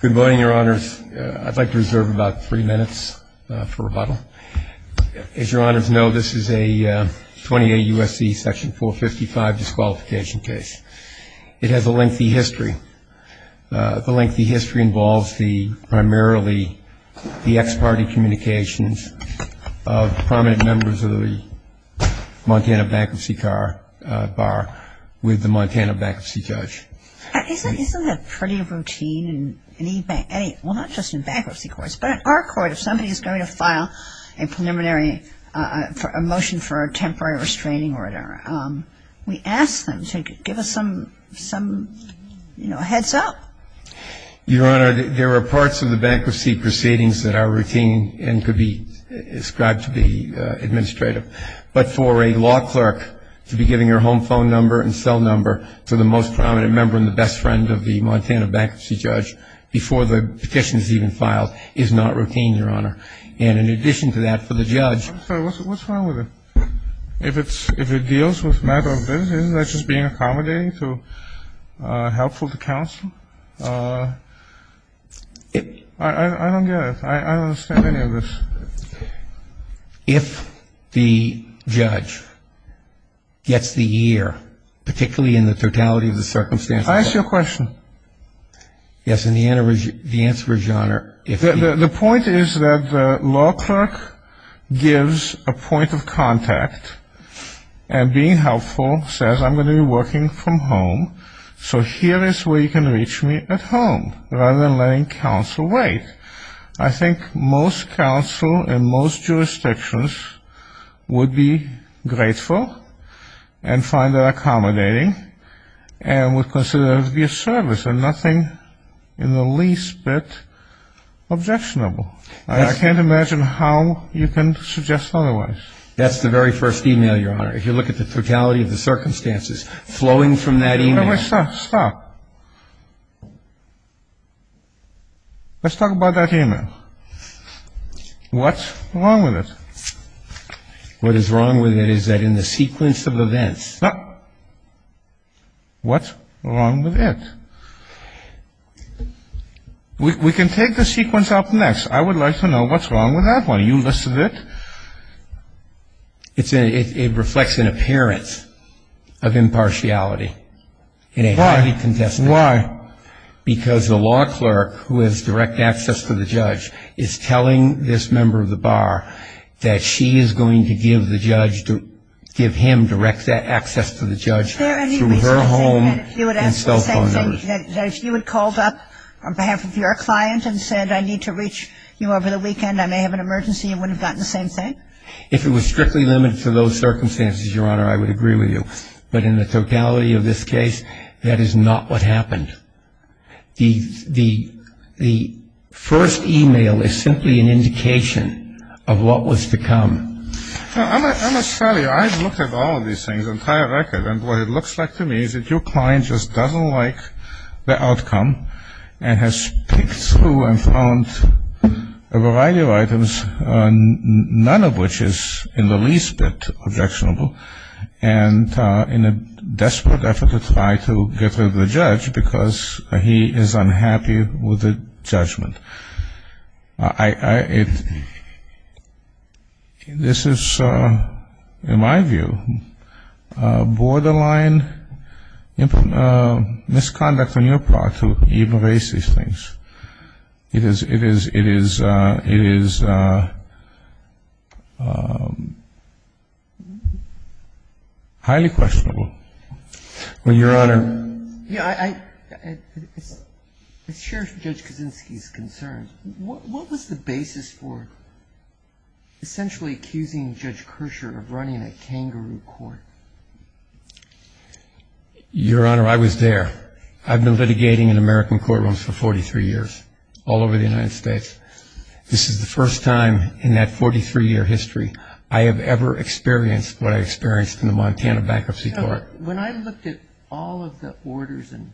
Good morning, your honors. I'd like to reserve about three minutes for rebuttal. As your honors know, this is a 28 U.S.C. section 455 disqualification case. It has a lengthy history. The lengthy history involves primarily the ex-party communications of prominent members of the Montana bankruptcy bar with the Montana bankruptcy judge. Isn't it pretty routine in any, well, not just in bankruptcy courts, but in our court if somebody is going to file a preliminary motion for a temporary restraining order, we ask them to give us some, you know, a heads up. Your honor, there are parts of the bankruptcy proceedings that are routine and could be described to be administrative. But for a law clerk to be giving her home phone number and cell number to the most prominent member and the best friend of the Montana bankruptcy judge before the petition is even filed is not routine, your honor. And in addition to that, for the judge I'm sorry, what's wrong with it? If it deals with matters of business, isn't that just being accommodating to, helpful to counsel? I don't get it. I don't understand any of this. If the judge gets the year, particularly in the totality of the circumstances I ask you a question. Yes, and the answer is, your honor, if The point is that the law clerk gives a point of contact and being helpful, says I'm going to be working from home, so here is where you can reach me at home, rather than letting counsel wait. I think most counsel in most jurisdictions would be grateful and find that accommodating and would consider it to be a service and nothing in the least bit objectionable. I can't imagine how you can suggest otherwise. That's the very first email, your honor. If you look at the totality of the circumstances flowing from that email Stop. Let's talk about that email. What's wrong with it? What is wrong with it is that in the sequence of events What's wrong with it? We can take the sequence up next. I would like to know what's wrong with that one. You listed it. It reflects an appearance of impartiality. Why? Because the law clerk who has direct access to the judge is telling this member of the bar that she is going to give the judge to give him direct access to the judge through her home and cell phone numbers. If you had called up on behalf of your client and said I need to reach you over the weekend, I may have an emergency, you wouldn't have gotten the same thing? If it was strictly limited to those circumstances, your honor, I would agree with you. But in the totality of this case, that is not what happened. The first email is simply an indication of what was to come. I must tell you, I have looked at all of these things, the entire record, and what it looks like to me is that your client just doesn't like the outcome and has picked through and found a variety of items, none of which is in the least bit objectionable, and in a desperate effort to try to get rid of the judge because he is unhappy with the judgment. This is, in my view, borderline misconduct on your part to even raise these things. It is highly questionable. Your honor. I share Judge Kuczynski's concerns. What was the basis for essentially accusing Judge Kirscher of running a kangaroo court? Your honor, I was there. I've been litigating in American courtrooms for 43 years, all over the United States. This is the first time in that 43-year history I have ever experienced what I experienced in the Montana Bankruptcy Court. When I looked at all of the orders and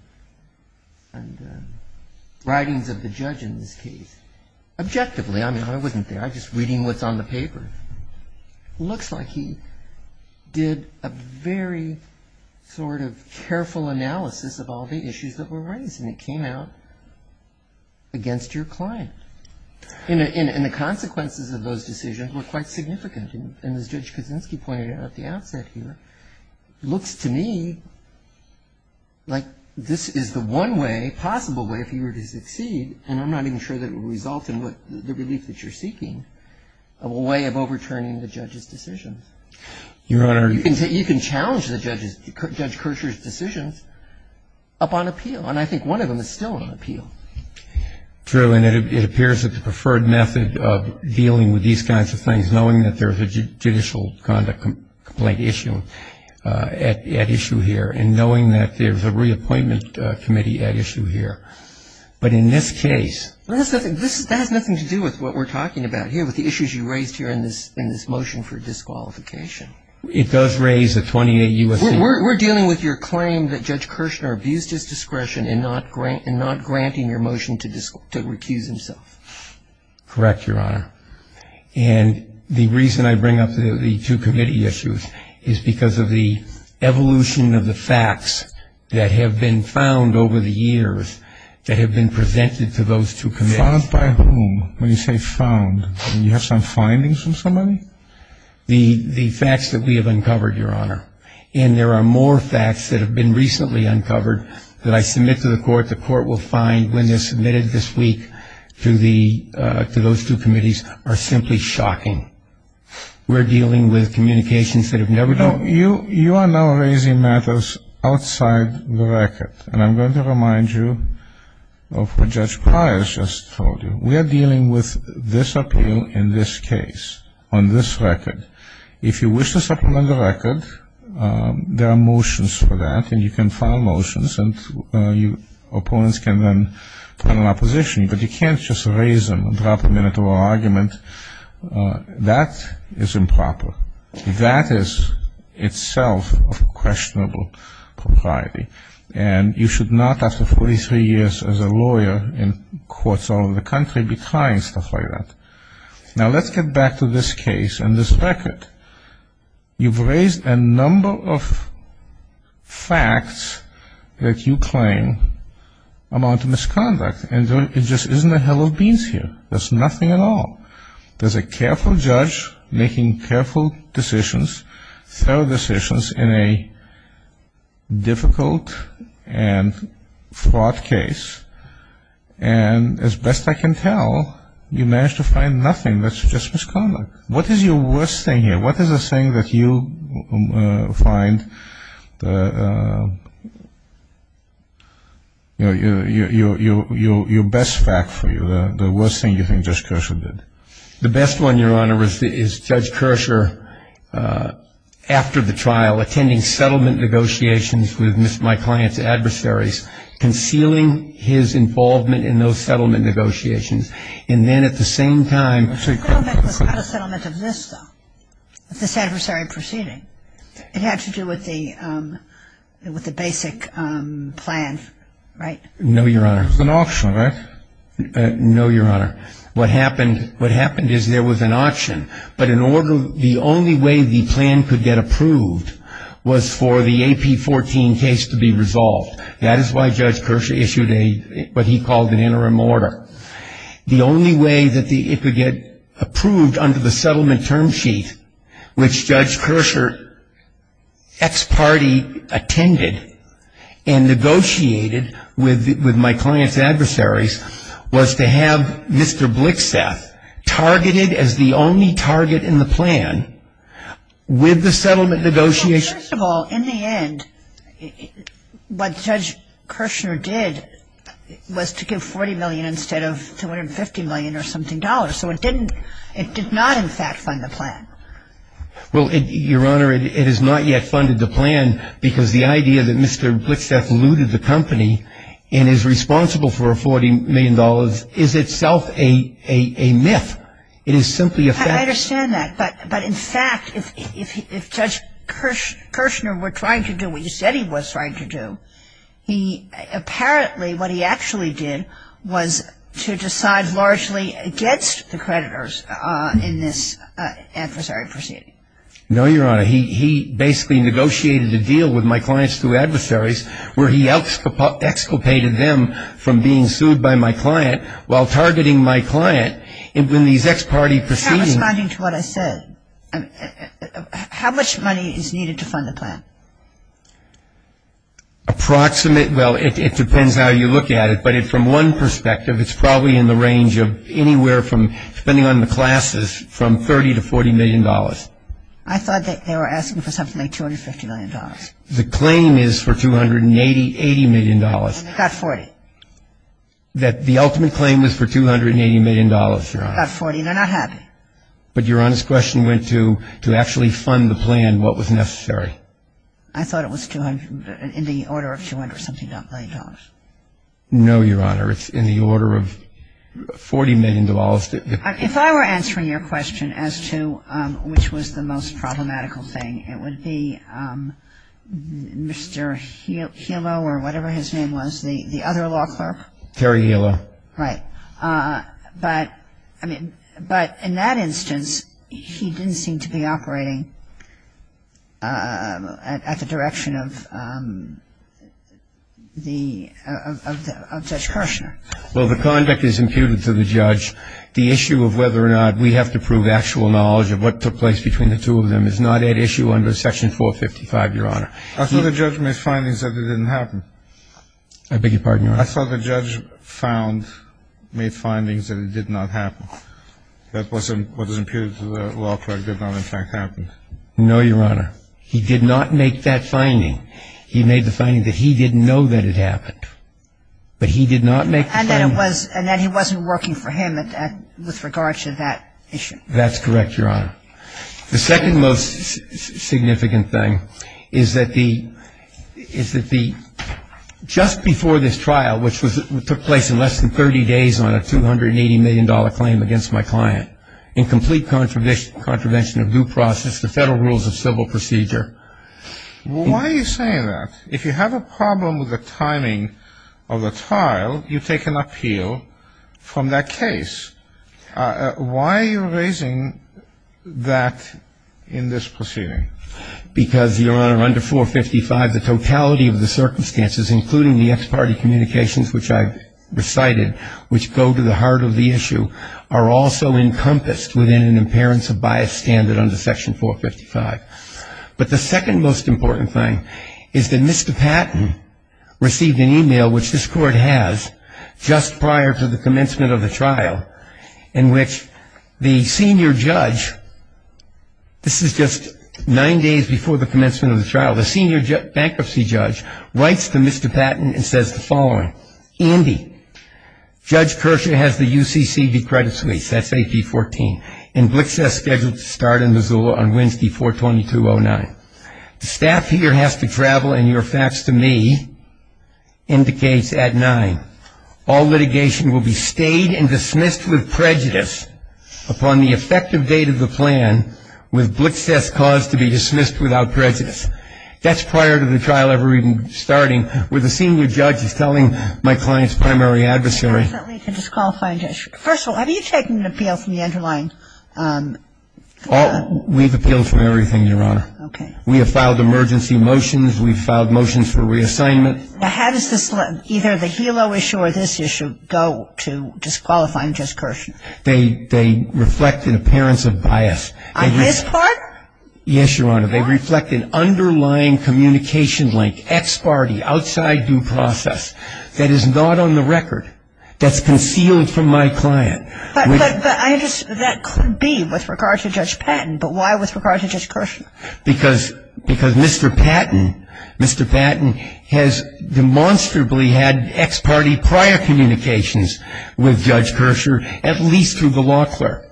writings of the judge in this case, objectively, I mean, I wasn't there. I was just reading what's on the paper. It looks like he did a very sort of careful analysis of all the issues that were raised, and it came out against your client. And the consequences of those decisions were quite significant. And as Judge Kuczynski pointed out at the outset here, it looks to me like this is the one way, possible way, if he were to succeed, and I'm not even sure that it would result in the relief that you're seeking, a way of overturning the judge's decisions. Your honor. You can challenge Judge Kirscher's decisions upon appeal, and I think one of them is still on appeal. True, and it appears that the preferred method of dealing with these kinds of things, knowing that there's a judicial conduct complaint issue at issue here, and knowing that there's a reappointment committee at issue here. But in this case. That has nothing to do with what we're talking about here, with the issues you raised here in this motion for disqualification. It does raise a 28 U.S.C. We're dealing with your claim that Judge Kirschner abused his discretion in not granting your motion to recuse himself. Correct, your honor. And the reason I bring up the two committee issues is because of the evolution of the facts that have been found over the years that have been presented to those two committees. Found by whom? When you say found, do you have some findings from somebody? The facts that we have uncovered, your honor, and there are more facts that have been recently uncovered that I submit to the court. The court will find when they're submitted this week to those two committees are simply shocking. We're dealing with communications that have never been. You are now raising matters outside the record, and I'm going to remind you of what Judge Pryor has just told you. We are dealing with this appeal in this case on this record. If you wish to supplement the record, there are motions for that, and you can file motions and opponents can then turn on opposition, but you can't just raise them and drop them into an argument. That is improper. That is itself a questionable propriety, and you should not, after 43 years as a lawyer in courts all over the country, be trying stuff like that. Now, let's get back to this case and this record. You've raised a number of facts that you claim amount to misconduct, and it just isn't a hell of beans here. There's nothing at all. There's a careful judge making careful decisions, thorough decisions in a difficult and fraught case, and as best I can tell, you managed to find nothing that's just misconduct. What is your worst thing here? The best one, Your Honor, is Judge Kershaw, after the trial, attending settlement negotiations with my client's adversaries, concealing his involvement in those settlement negotiations, and then at the same time The settlement was not a settlement of this, though, of this adversary proceeding. It had to do with the basic plan, right? No, Your Honor. It was an auction, right? No, Your Honor. What happened is there was an auction, but the only way the plan could get approved was for the AP14 case to be resolved. That is why Judge Kershaw issued what he called an interim order. The only way that it could get approved under the settlement term sheet, which Judge Kershaw's ex-party attended and negotiated with my client's adversaries, was to have Mr. Blickstaff targeted as the only target in the plan with the settlement negotiations. First of all, in the end, what Judge Kershaw did was to give $40 million instead of $250 million or something. So it did not, in fact, fund the plan. Well, Your Honor, it has not yet funded the plan because the idea that Mr. Blickstaff looted the company and is responsible for $40 million is itself a myth. It is simply a fact. I understand that. But in fact, if Judge Kirshner were trying to do what he said he was trying to do, apparently what he actually did was to decide largely against the creditors in this adversary proceeding. No, Your Honor. He basically negotiated a deal with my client's two adversaries where he exculpated them from being sued by my client while targeting my client. I'm not responding to what I said. How much money is needed to fund the plan? Approximate, well, it depends how you look at it, but from one perspective, it's probably in the range of anywhere from, depending on the classes, from $30 to $40 million. I thought they were asking for something like $250 million. The claim is for $280 million. Not $40. That the ultimate claim was for $280 million, Your Honor. Not $40. They're not happy. But Your Honor's question went to actually fund the plan, what was necessary. I thought it was in the order of $200-something million. No, Your Honor. It's in the order of $40 million. If I were answering your question as to which was the most problematical thing, it would be Mr. Hilo or whatever his name was, the other law clerk. Terry Hilo. Right. But in that instance, he didn't seem to be operating at the direction of Judge Kirshner. Well, the conduct is imputed to the judge. The issue of whether or not we have to prove actual knowledge of what took place between the two of them is not at issue under Section 455, Your Honor. I thought the judge made findings that it didn't happen. I beg your pardon, Your Honor. I thought the judge found, made findings that it did not happen, that what was imputed to the law clerk did not in fact happen. No, Your Honor. He did not make that finding. He made the finding that he didn't know that it happened. But he did not make the finding. And that he wasn't working for him with regard to that issue. That's correct, Your Honor. The second most significant thing is that the just before this trial, which took place in less than 30 days on a $280 million claim against my client, in complete contravention of due process, the federal rules of civil procedure. Why are you saying that? If you have a problem with the timing of the trial, you take an appeal from that case. Why are you raising that in this proceeding? Because, Your Honor, under 455, the totality of the circumstances, including the ex parte communications which I've recited, which go to the heart of the issue, are also encompassed within an appearance of bias standard under Section 455. But the second most important thing is that Mr. Patton received an e-mail, which this court has, just prior to the commencement of the trial, in which the senior judge, this is just nine days before the commencement of the trial, the senior bankruptcy judge writes to Mr. Patton and says the following, Andy, Judge Kershaw has the UCCD credit suites, that's AP 14, and Blix has scheduled to start in Missoula on Wednesday, 4-22-09. The staff here has to travel, and your fax to me indicates at 9. All litigation will be stayed and dismissed with prejudice upon the effective date of the plan with Blix's cause to be dismissed without prejudice. That's prior to the trial ever even starting, where the senior judge is telling my client's primary adversary. First of all, have you taken an appeal from the underlying? We've appealed from everything, Your Honor. Okay. We have filed emergency motions. We've filed motions for reassignment. How does this, either the Hilo issue or this issue, go to disqualifying Judge Kershaw? They reflect an appearance of bias. On this part? Yes, Your Honor. They reflect an underlying communication link, ex parte, outside due process, that is not on the record, that's concealed from my client. But that could be with regard to Judge Patton, but why with regard to Judge Kershaw? Because Mr. Patton has demonstrably had ex parte prior communications with Judge Kershaw, at least through the law clerk.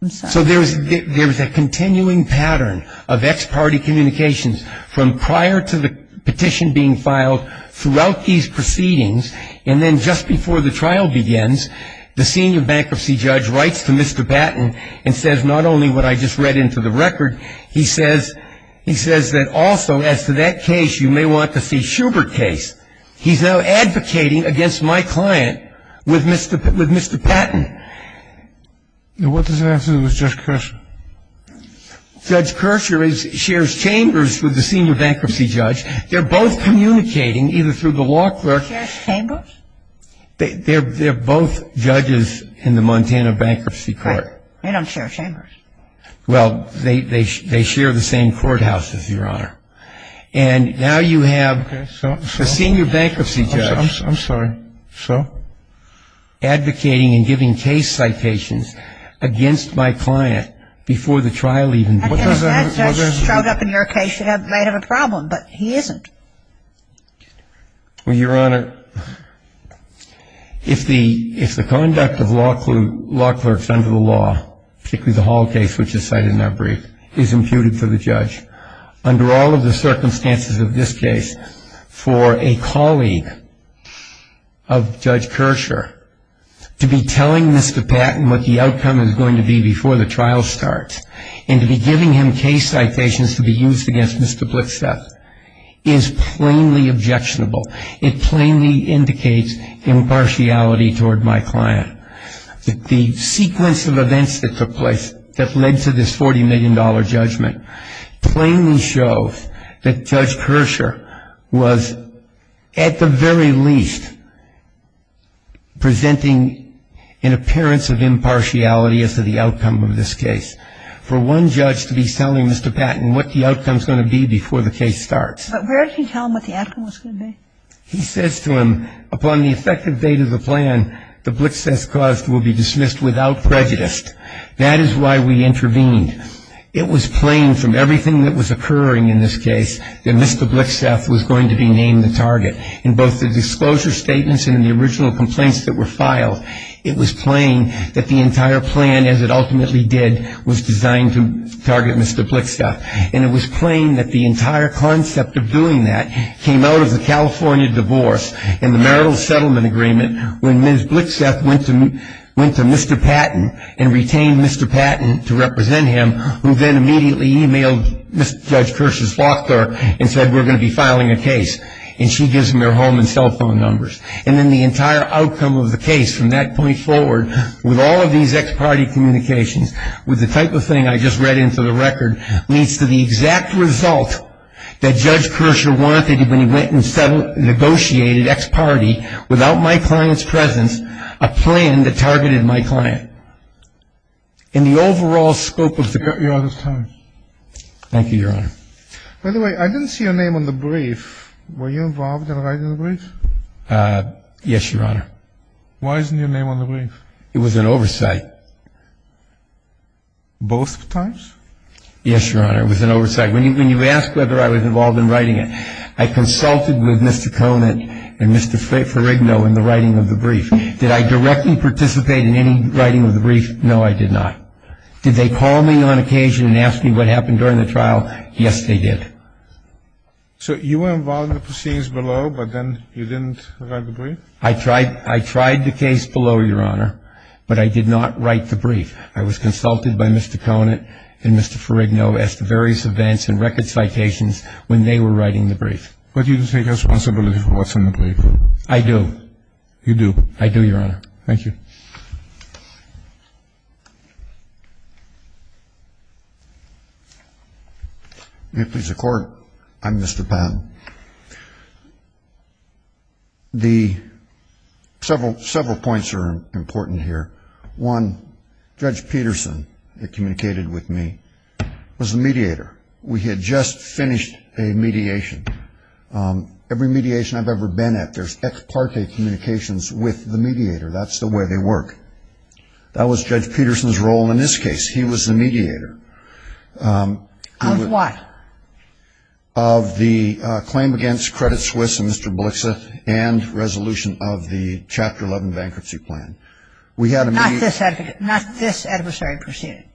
I'm sorry. So there's a continuing pattern of ex parte communications from prior to the petition being filed throughout these proceedings, and then just before the trial begins, the senior bankruptcy judge writes to Mr. Patton and says not only what I just read into the record, he says that also as to that case you may want to see Schubert's case. He's now advocating against my client with Mr. Patton. And what does that have to do with Judge Kershaw? Judge Kershaw shares chambers with the senior bankruptcy judge. They're both communicating, either through the law clerk. They share chambers? They're both judges in the Montana Bankruptcy Court. They don't share chambers. Well, they share the same courthouses, Your Honor. And now you have the senior bankruptcy judge. I'm sorry. So? Advocating and giving case citations against my client before the trial even begins. Because that judge showed up in your case, you might have a problem, but he isn't. Well, Your Honor, if the conduct of law clerks under the law, particularly the Hall case which is cited in that brief, is imputed for the judge, under all of the circumstances of this case, for a colleague of Judge Kershaw, to be telling Mr. Patton what the outcome is going to be before the trial starts and to be giving him case citations to be used against Mr. Blixstaff is plainly objectionable. It plainly indicates impartiality toward my client. The sequence of events that took place that led to this $40 million judgment plainly shows that Judge Kershaw was, at the very least, presenting an appearance of impartiality as to the outcome of this case. For one judge to be telling Mr. Patton what the outcome is going to be before the case starts. But where did he tell him what the outcome was going to be? He says to him, upon the effective date of the plan, the Blixstaff cause will be dismissed without prejudice. That is why we intervened. It was plain from everything that was occurring in this case that Mr. Blixstaff was going to be named the target. In both the disclosure statements and in the original complaints that were filed, it was plain that the entire plan, as it ultimately did, was designed to target Mr. Blixstaff. And it was plain that the entire concept of doing that came out of the California divorce and the marital settlement agreement when Ms. Blixstaff went to Mr. Patton and retained Mr. Patton to represent him, who then immediately emailed Judge Kershaw's law firm and said, we're going to be filing a case. And she gives them their home and cell phone numbers. And then the entire outcome of the case from that point forward, with all of these ex-party communications, with the type of thing I just read into the record, leads to the exact result that Judge Kershaw wanted when he went and negotiated ex-party, without my client's presence, a plan that targeted my client. In the overall scope of the case. Your Honor's time. Thank you, Your Honor. By the way, I didn't see your name on the brief. Were you involved in writing the brief? Yes, Your Honor. Why isn't your name on the brief? It was an oversight. Both times? Yes, Your Honor. It was an oversight. When you asked whether I was involved in writing it, I consulted with Mr. Conant and Mr. Ferrigno in the writing of the brief. Did I directly participate in any writing of the brief? No, I did not. Did they call me on occasion and ask me what happened during the trial? Yes, they did. I tried the case below, Your Honor, but I did not write the brief. I was consulted by Mr. Conant and Mr. Ferrigno as to various events and record citations when they were writing the brief. But you take responsibility for what's in the brief? I do. You do? I do, Your Honor. Thank you. May it please the Court. I'm Mr. Powell. The several points are important here. One, Judge Peterson, who communicated with me, was the mediator. We had just finished a mediation. Every mediation I've ever been at, there's ex parte communications with the mediator. That's the way they work. That was Judge Peterson's role in this case. He was the mediator. Of what? Of the claim against Credit Suisse and Mr. Blixa and resolution of the Chapter 11 bankruptcy plan. Not this adversary proceeding?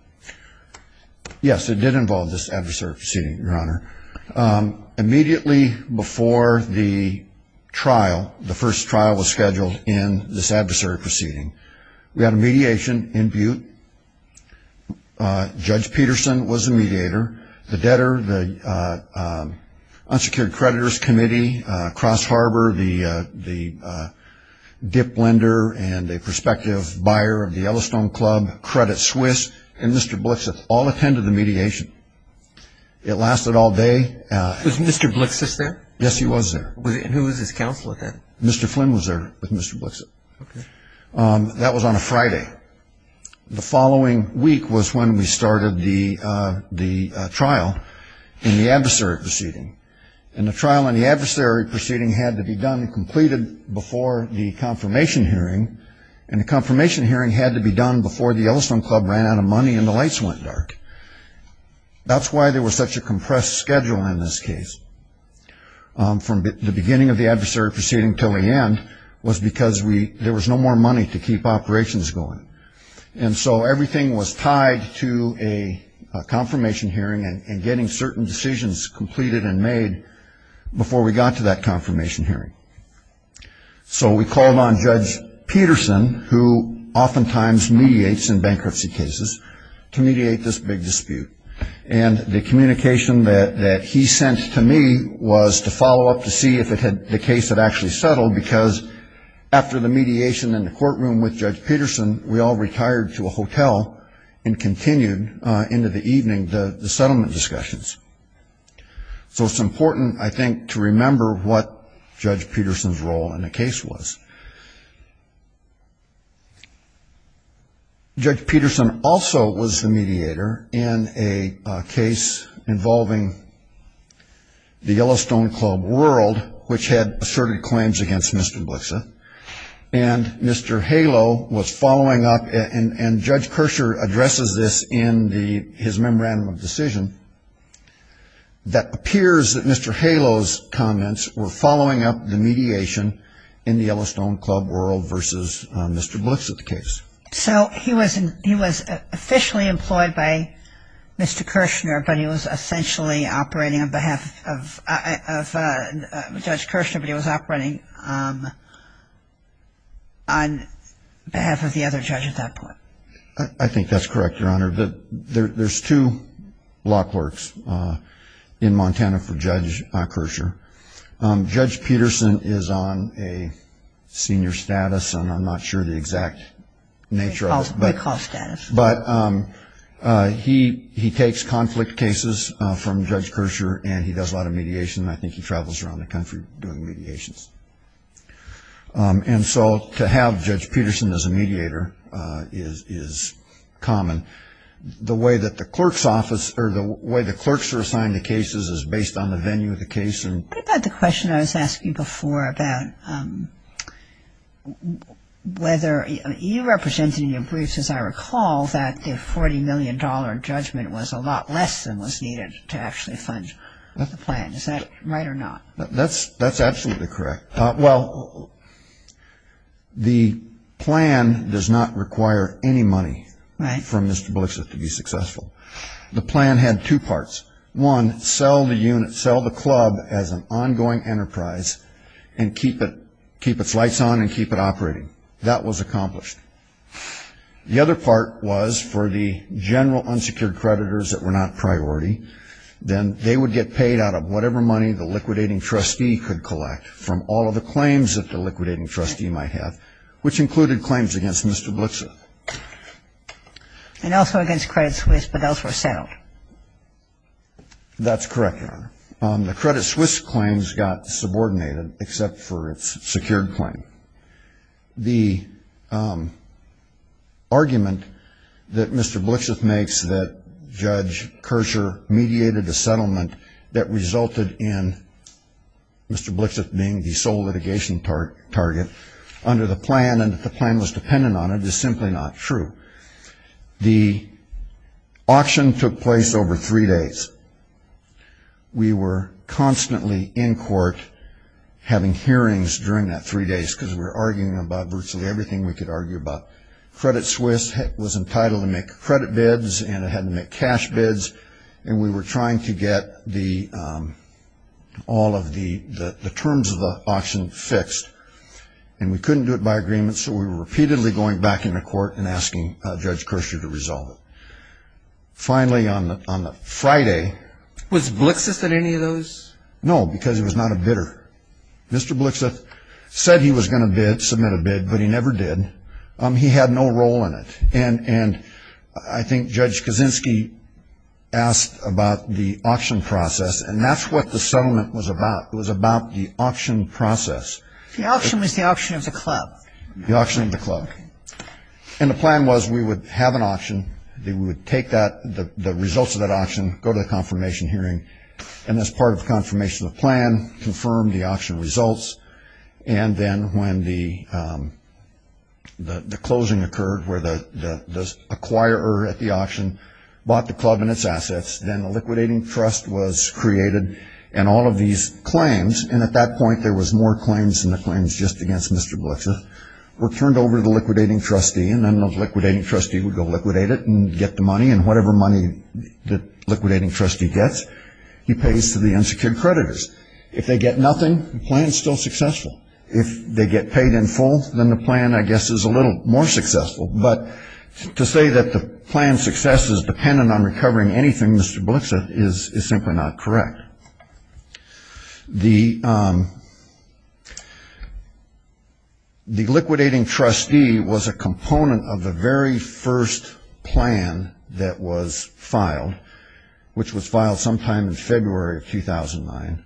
Yes, it did involve this adversary proceeding, Your Honor. Immediately before the trial, the first trial was scheduled in this adversary proceeding, we had a mediation in Butte. Judge Peterson was the mediator. The debtor, the unsecured creditors committee, Cross Harbor, the dip lender, and a prospective buyer of the Yellowstone Club, Credit Suisse, and Mr. Blixa all attended the mediation. It lasted all day. Was Mr. Blixa there? Yes, he was there. And who was his counselor then? Mr. Flynn was there with Mr. Blixa. That was on a Friday. The following week was when we started the trial in the adversary proceeding. And the trial in the adversary proceeding had to be done and completed before the confirmation hearing, and the confirmation hearing had to be done before the Yellowstone Club ran out of money and the lights went dark. That's why there was such a compressed schedule in this case. From the beginning of the adversary proceeding until the end was because there was no more money to keep operations going. And so everything was tied to a confirmation hearing and getting certain decisions completed and made before we got to that confirmation hearing. So we called on Judge Peterson, who oftentimes mediates in bankruptcy cases, to mediate this big dispute. And the communication that he sent to me was to follow up to see if the case had actually settled, because after the mediation in the courtroom with Judge Peterson, we all retired to a hotel and continued into the evening the settlement discussions. So it's important, I think, to remember what Judge Peterson's role in the case was. Judge Peterson also was the mediator in a case involving the Yellowstone Club world, which had asserted claims against Mr. Blixa, and Mr. Haleau was following up, and Judge Kershaw addresses this in his memorandum of decision, that appears that Mr. Haleau's comments were following up the mediation in the Yellowstone Club world versus Mr. Blixa's case. So he was officially employed by Mr. Kirshner, but he was essentially operating on behalf of Judge Kirshner, but he was operating on behalf of the other judge at that point. I think that's correct, Your Honor, but there's two law clerks in Montana for Judge Kirshner. Judge Peterson is on a senior status, and I'm not sure the exact nature of it, but he takes conflict cases from Judge Kirshner, and he does a lot of mediation, and I think he travels around the country doing mediations. And so to have Judge Peterson as a mediator is common. The way that the clerk's office, or the way the clerks are assigned the cases is based on the venue of the case. What about the question I was asking before about whether, you represented in your briefs, as I recall, that the $40 million judgment was a lot less than was needed to actually fund the plan. Is that right or not? That's absolutely correct. Well, the plan does not require any money from Mr. Blixit to be successful. The plan had two parts. One, sell the unit, sell the club as an ongoing enterprise, and keep its lights on and keep it operating. That was accomplished. The other part was for the general unsecured creditors that were not priority, then they would get paid out of whatever money the liquidating trustee could collect from all of the claims that the liquidating trustee might have, which included claims against Mr. Blixit. And also against Credit Suisse, but those were settled. That's correct, Your Honor. The Credit Suisse claims got subordinated except for its secured claim. The argument that Mr. Blixit makes that Judge Kershaw mediated a settlement that resulted in Mr. Blixit being the sole litigation target under the plan, and that the plan was dependent on it, is simply not true. The auction took place over three days. We were constantly in court having hearings during that three days, because we were arguing about virtually everything we could argue about. Credit Suisse was entitled to make credit bids, and it had to make cash bids, and we were trying to get all of the terms of the auction fixed. And we couldn't do it by agreement, so we were repeatedly going back into court and asking Judge Kershaw to resolve it. Finally, on the Friday. Was Blixit at any of those? No, because he was not a bidder. Mr. Blixit said he was going to bid, submit a bid, but he never did. He had no role in it. And I think Judge Kaczynski asked about the auction process, and that's what the settlement was about. It was about the auction process. The auction was the auction of the club. The auction of the club. And the plan was we would have an auction. We would take the results of that auction, go to the confirmation hearing, and as part of the confirmation of the plan, confirm the auction results. And then when the closing occurred, where the acquirer at the auction bought the club and its assets, then the liquidating trust was created, and all of these claims, and at that point there was more claims than the claims just against Mr. Blixit, were turned over to the liquidating trustee, and then the liquidating trustee would go liquidate it and get the money, and whatever money the liquidating trustee gets, he pays to the unsecured creditors. If they get nothing, the plan is still successful. If they get paid in full, then the plan, I guess, is a little more successful. But to say that the plan's success is dependent on recovering anything, Mr. Blixit, is simply not correct. The liquidating trustee was a component of the very first plan that was filed, which was filed sometime in February of 2009.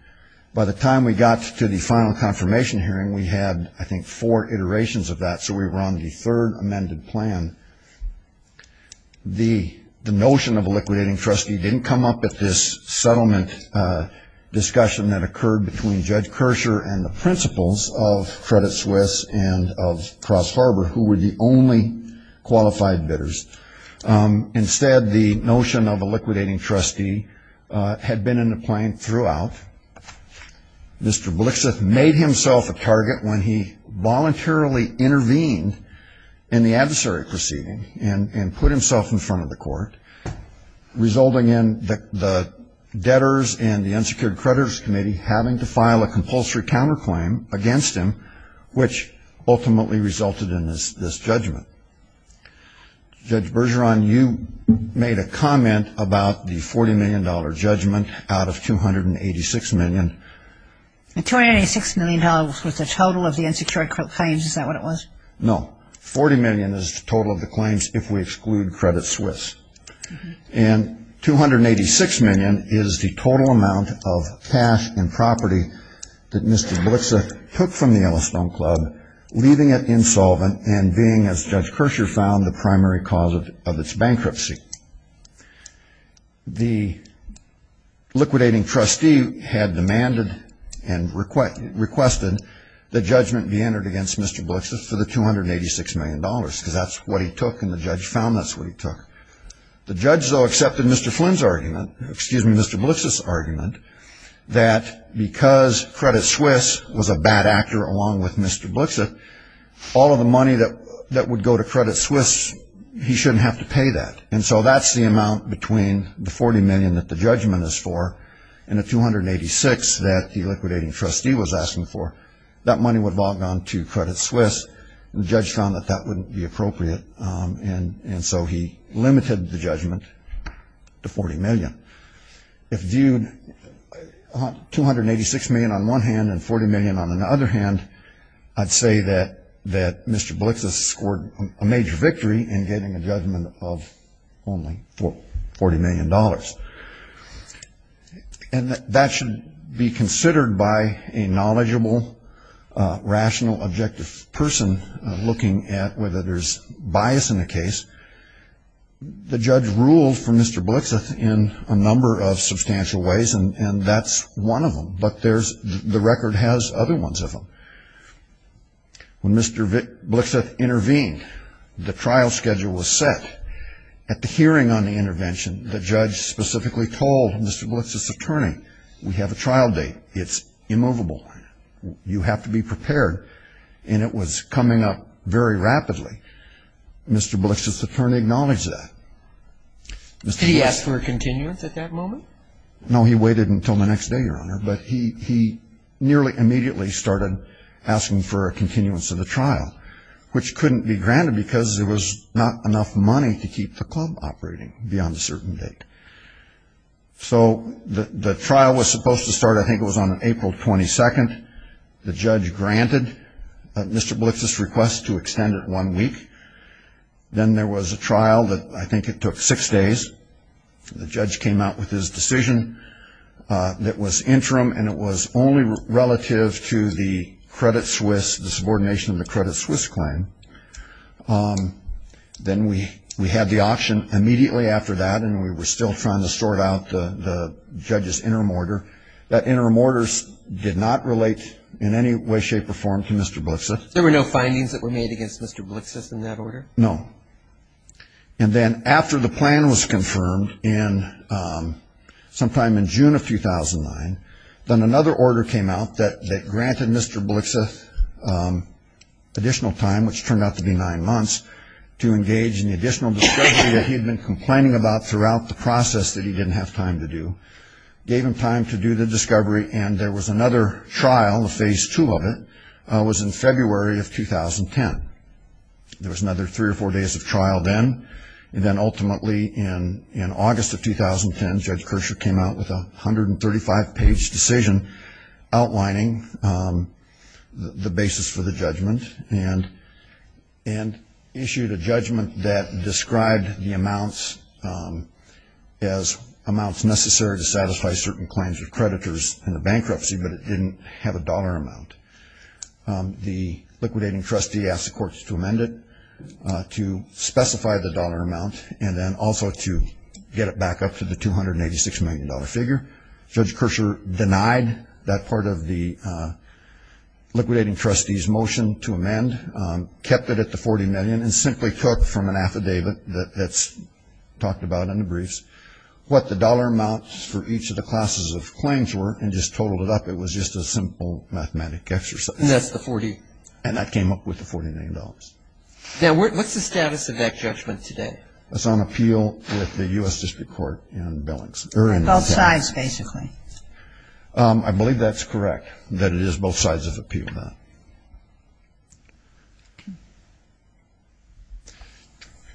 By the time we got to the final confirmation hearing, we had, I think, four iterations of that, so we were on the third amended plan. The notion of a liquidating trustee didn't come up at this settlement discussion that occurred between Judge Kirscher and the principals of Credit Suisse and of Cross Harbor, who were the only qualified bidders. Instead, the notion of a liquidating trustee had been in the plan throughout. Mr. Blixit made himself a target when he voluntarily intervened in the adversary proceeding and put himself in front of the court, resulting in the debtors and the unsecured creditors committee having to file a compulsory counterclaim against him, which ultimately resulted in this judgment. Judge Bergeron, you made a comment about the $40 million judgment out of $286 million. $286 million was the total of the unsecured claims. Is that what it was? No. $40 million is the total of the claims if we exclude Credit Suisse. And $286 million is the total amount of cash and property that Mr. Blixit took from the Yellowstone Club, leaving it insolvent and being, as Judge Kirscher found, the primary cause of its bankruptcy. The liquidating trustee had demanded and requested the judgment be entered against Mr. Blixit for the $286 million, because that's what he took and the judge found that's what he took. The judge, though, accepted Mr. Flynn's argument, excuse me, Mr. Blixit's argument, that because Credit Suisse was a bad actor along with Mr. Blixit, all of the money that would go to Credit Suisse, he shouldn't have to pay that. And so that's the amount between the $40 million that the judgment is for and the $286 million that the liquidating trustee was asking for. That money would have all gone to Credit Suisse. The judge found that that wouldn't be appropriate, and so he limited the judgment to $40 million. If viewed, $286 million on one hand and $40 million on the other hand, I'd say that Mr. Blixit scored a major victory in getting a judgment of only $40 million. And that should be considered by a knowledgeable, rational, objective person looking at whether there's bias in the case. The judge ruled for Mr. Blixit in a number of substantial ways, and that's one of them, but the record has other ones of them. When Mr. Blixit intervened, the trial schedule was set. At the hearing on the intervention, the judge specifically told Mr. Blixit's attorney, we have a trial date, it's immovable, you have to be prepared, and it was coming up very rapidly. Mr. Blixit's attorney acknowledged that. Did he ask for a continuance at that moment? No, he waited until the next day, Your Honor, but he nearly immediately started asking for a continuance of the trial, which couldn't be granted because there was not enough money to keep the club operating beyond a certain date. So the trial was supposed to start, I think it was on April 22nd. The judge granted Mr. Blixit's request to extend it one week. Then there was a trial that I think it took six days. The judge came out with his decision that was interim, and it was only relative to the credit Swiss, the subordination of the credit Swiss claim. Then we had the option immediately after that, and we were still trying to sort out the judge's interim order. That interim order did not relate in any way, shape, or form to Mr. Blixit. There were no findings that were made against Mr. Blixit in that order? No. And then after the plan was confirmed sometime in June of 2009, then another order came out that granted Mr. Blixit additional time, which turned out to be nine months, to engage in the additional discussion that he had been complaining about throughout the process that he didn't have time to do. Gave him time to do the discovery, and there was another trial. The phase two of it was in February of 2010. There was another three or four days of trial then, and then ultimately in August of 2010 Judge Kershaw came out with a 135-page decision outlining the basis for the judgment and issued a judgment that described the amounts as amounts necessary to satisfy certain claims of creditors in the bankruptcy, but it didn't have a dollar amount. The liquidating trustee asked the courts to amend it to specify the dollar amount and then also to get it back up to the $286 million figure. Judge Kershaw denied that part of the liquidating trustee's motion to amend, kept it at the $40 million, and simply took from an affidavit that's talked about in the briefs what the dollar amounts for each of the classes of claims were and just totaled it up. It was just a simple mathematic exercise. And that's the $40? And that came up with the $40 million. Now what's the status of that judgment today? It's on appeal with the U.S. District Court in Billings. On both sides, basically. I believe that's correct, that it is both sides of appeal now.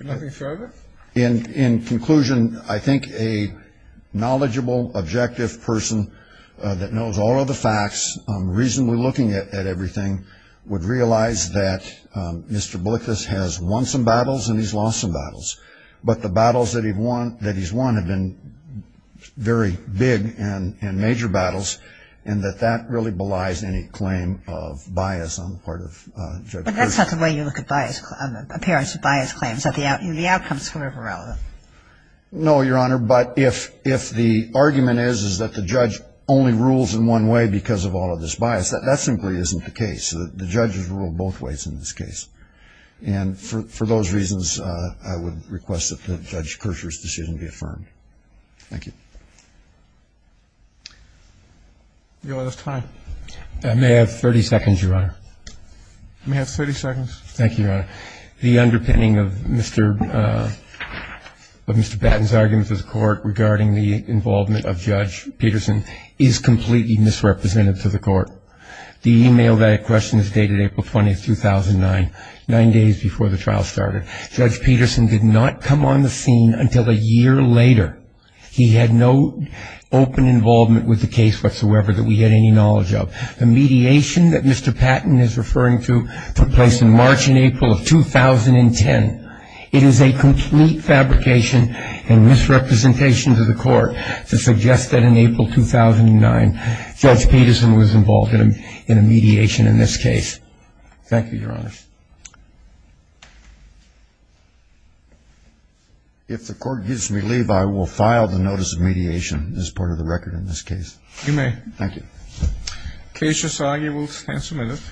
Anything further? In conclusion, I think a knowledgeable, objective person that knows all of the facts, reasonably looking at everything, would realize that Mr. Blickus has won some battles and major battles and that that really belies any claim of bias on the part of Judge Kershaw. But that's not the way you look at appearance of bias claims. The outcome is sort of irrelevant. No, Your Honor. But if the argument is that the judge only rules in one way because of all of this bias, that simply isn't the case. The judges rule both ways in this case. And for those reasons, I would request that Judge Kershaw's decision be affirmed. Thank you. Your Honor, that's time. I may have 30 seconds, Your Honor. You may have 30 seconds. Thank you, Your Honor. The underpinning of Mr. Batten's argument to the court regarding the involvement of Judge Peterson is completely misrepresented to the court. The e-mail that question is dated April 20, 2009, nine days before the trial started. Judge Peterson did not come on the scene until a year later. He had no open involvement with the case whatsoever that we had any knowledge of. The mediation that Mr. Batten is referring to took place in March and April of 2010. It is a complete fabrication and misrepresentation to the court to suggest that in April 2009, Judge Peterson was involved in a mediation in this case. Thank you, Your Honor. If the court gives me leave, I will file the notice of mediation as part of the record in this case. You may. Thank you. Case is argued. We'll stand some minutes.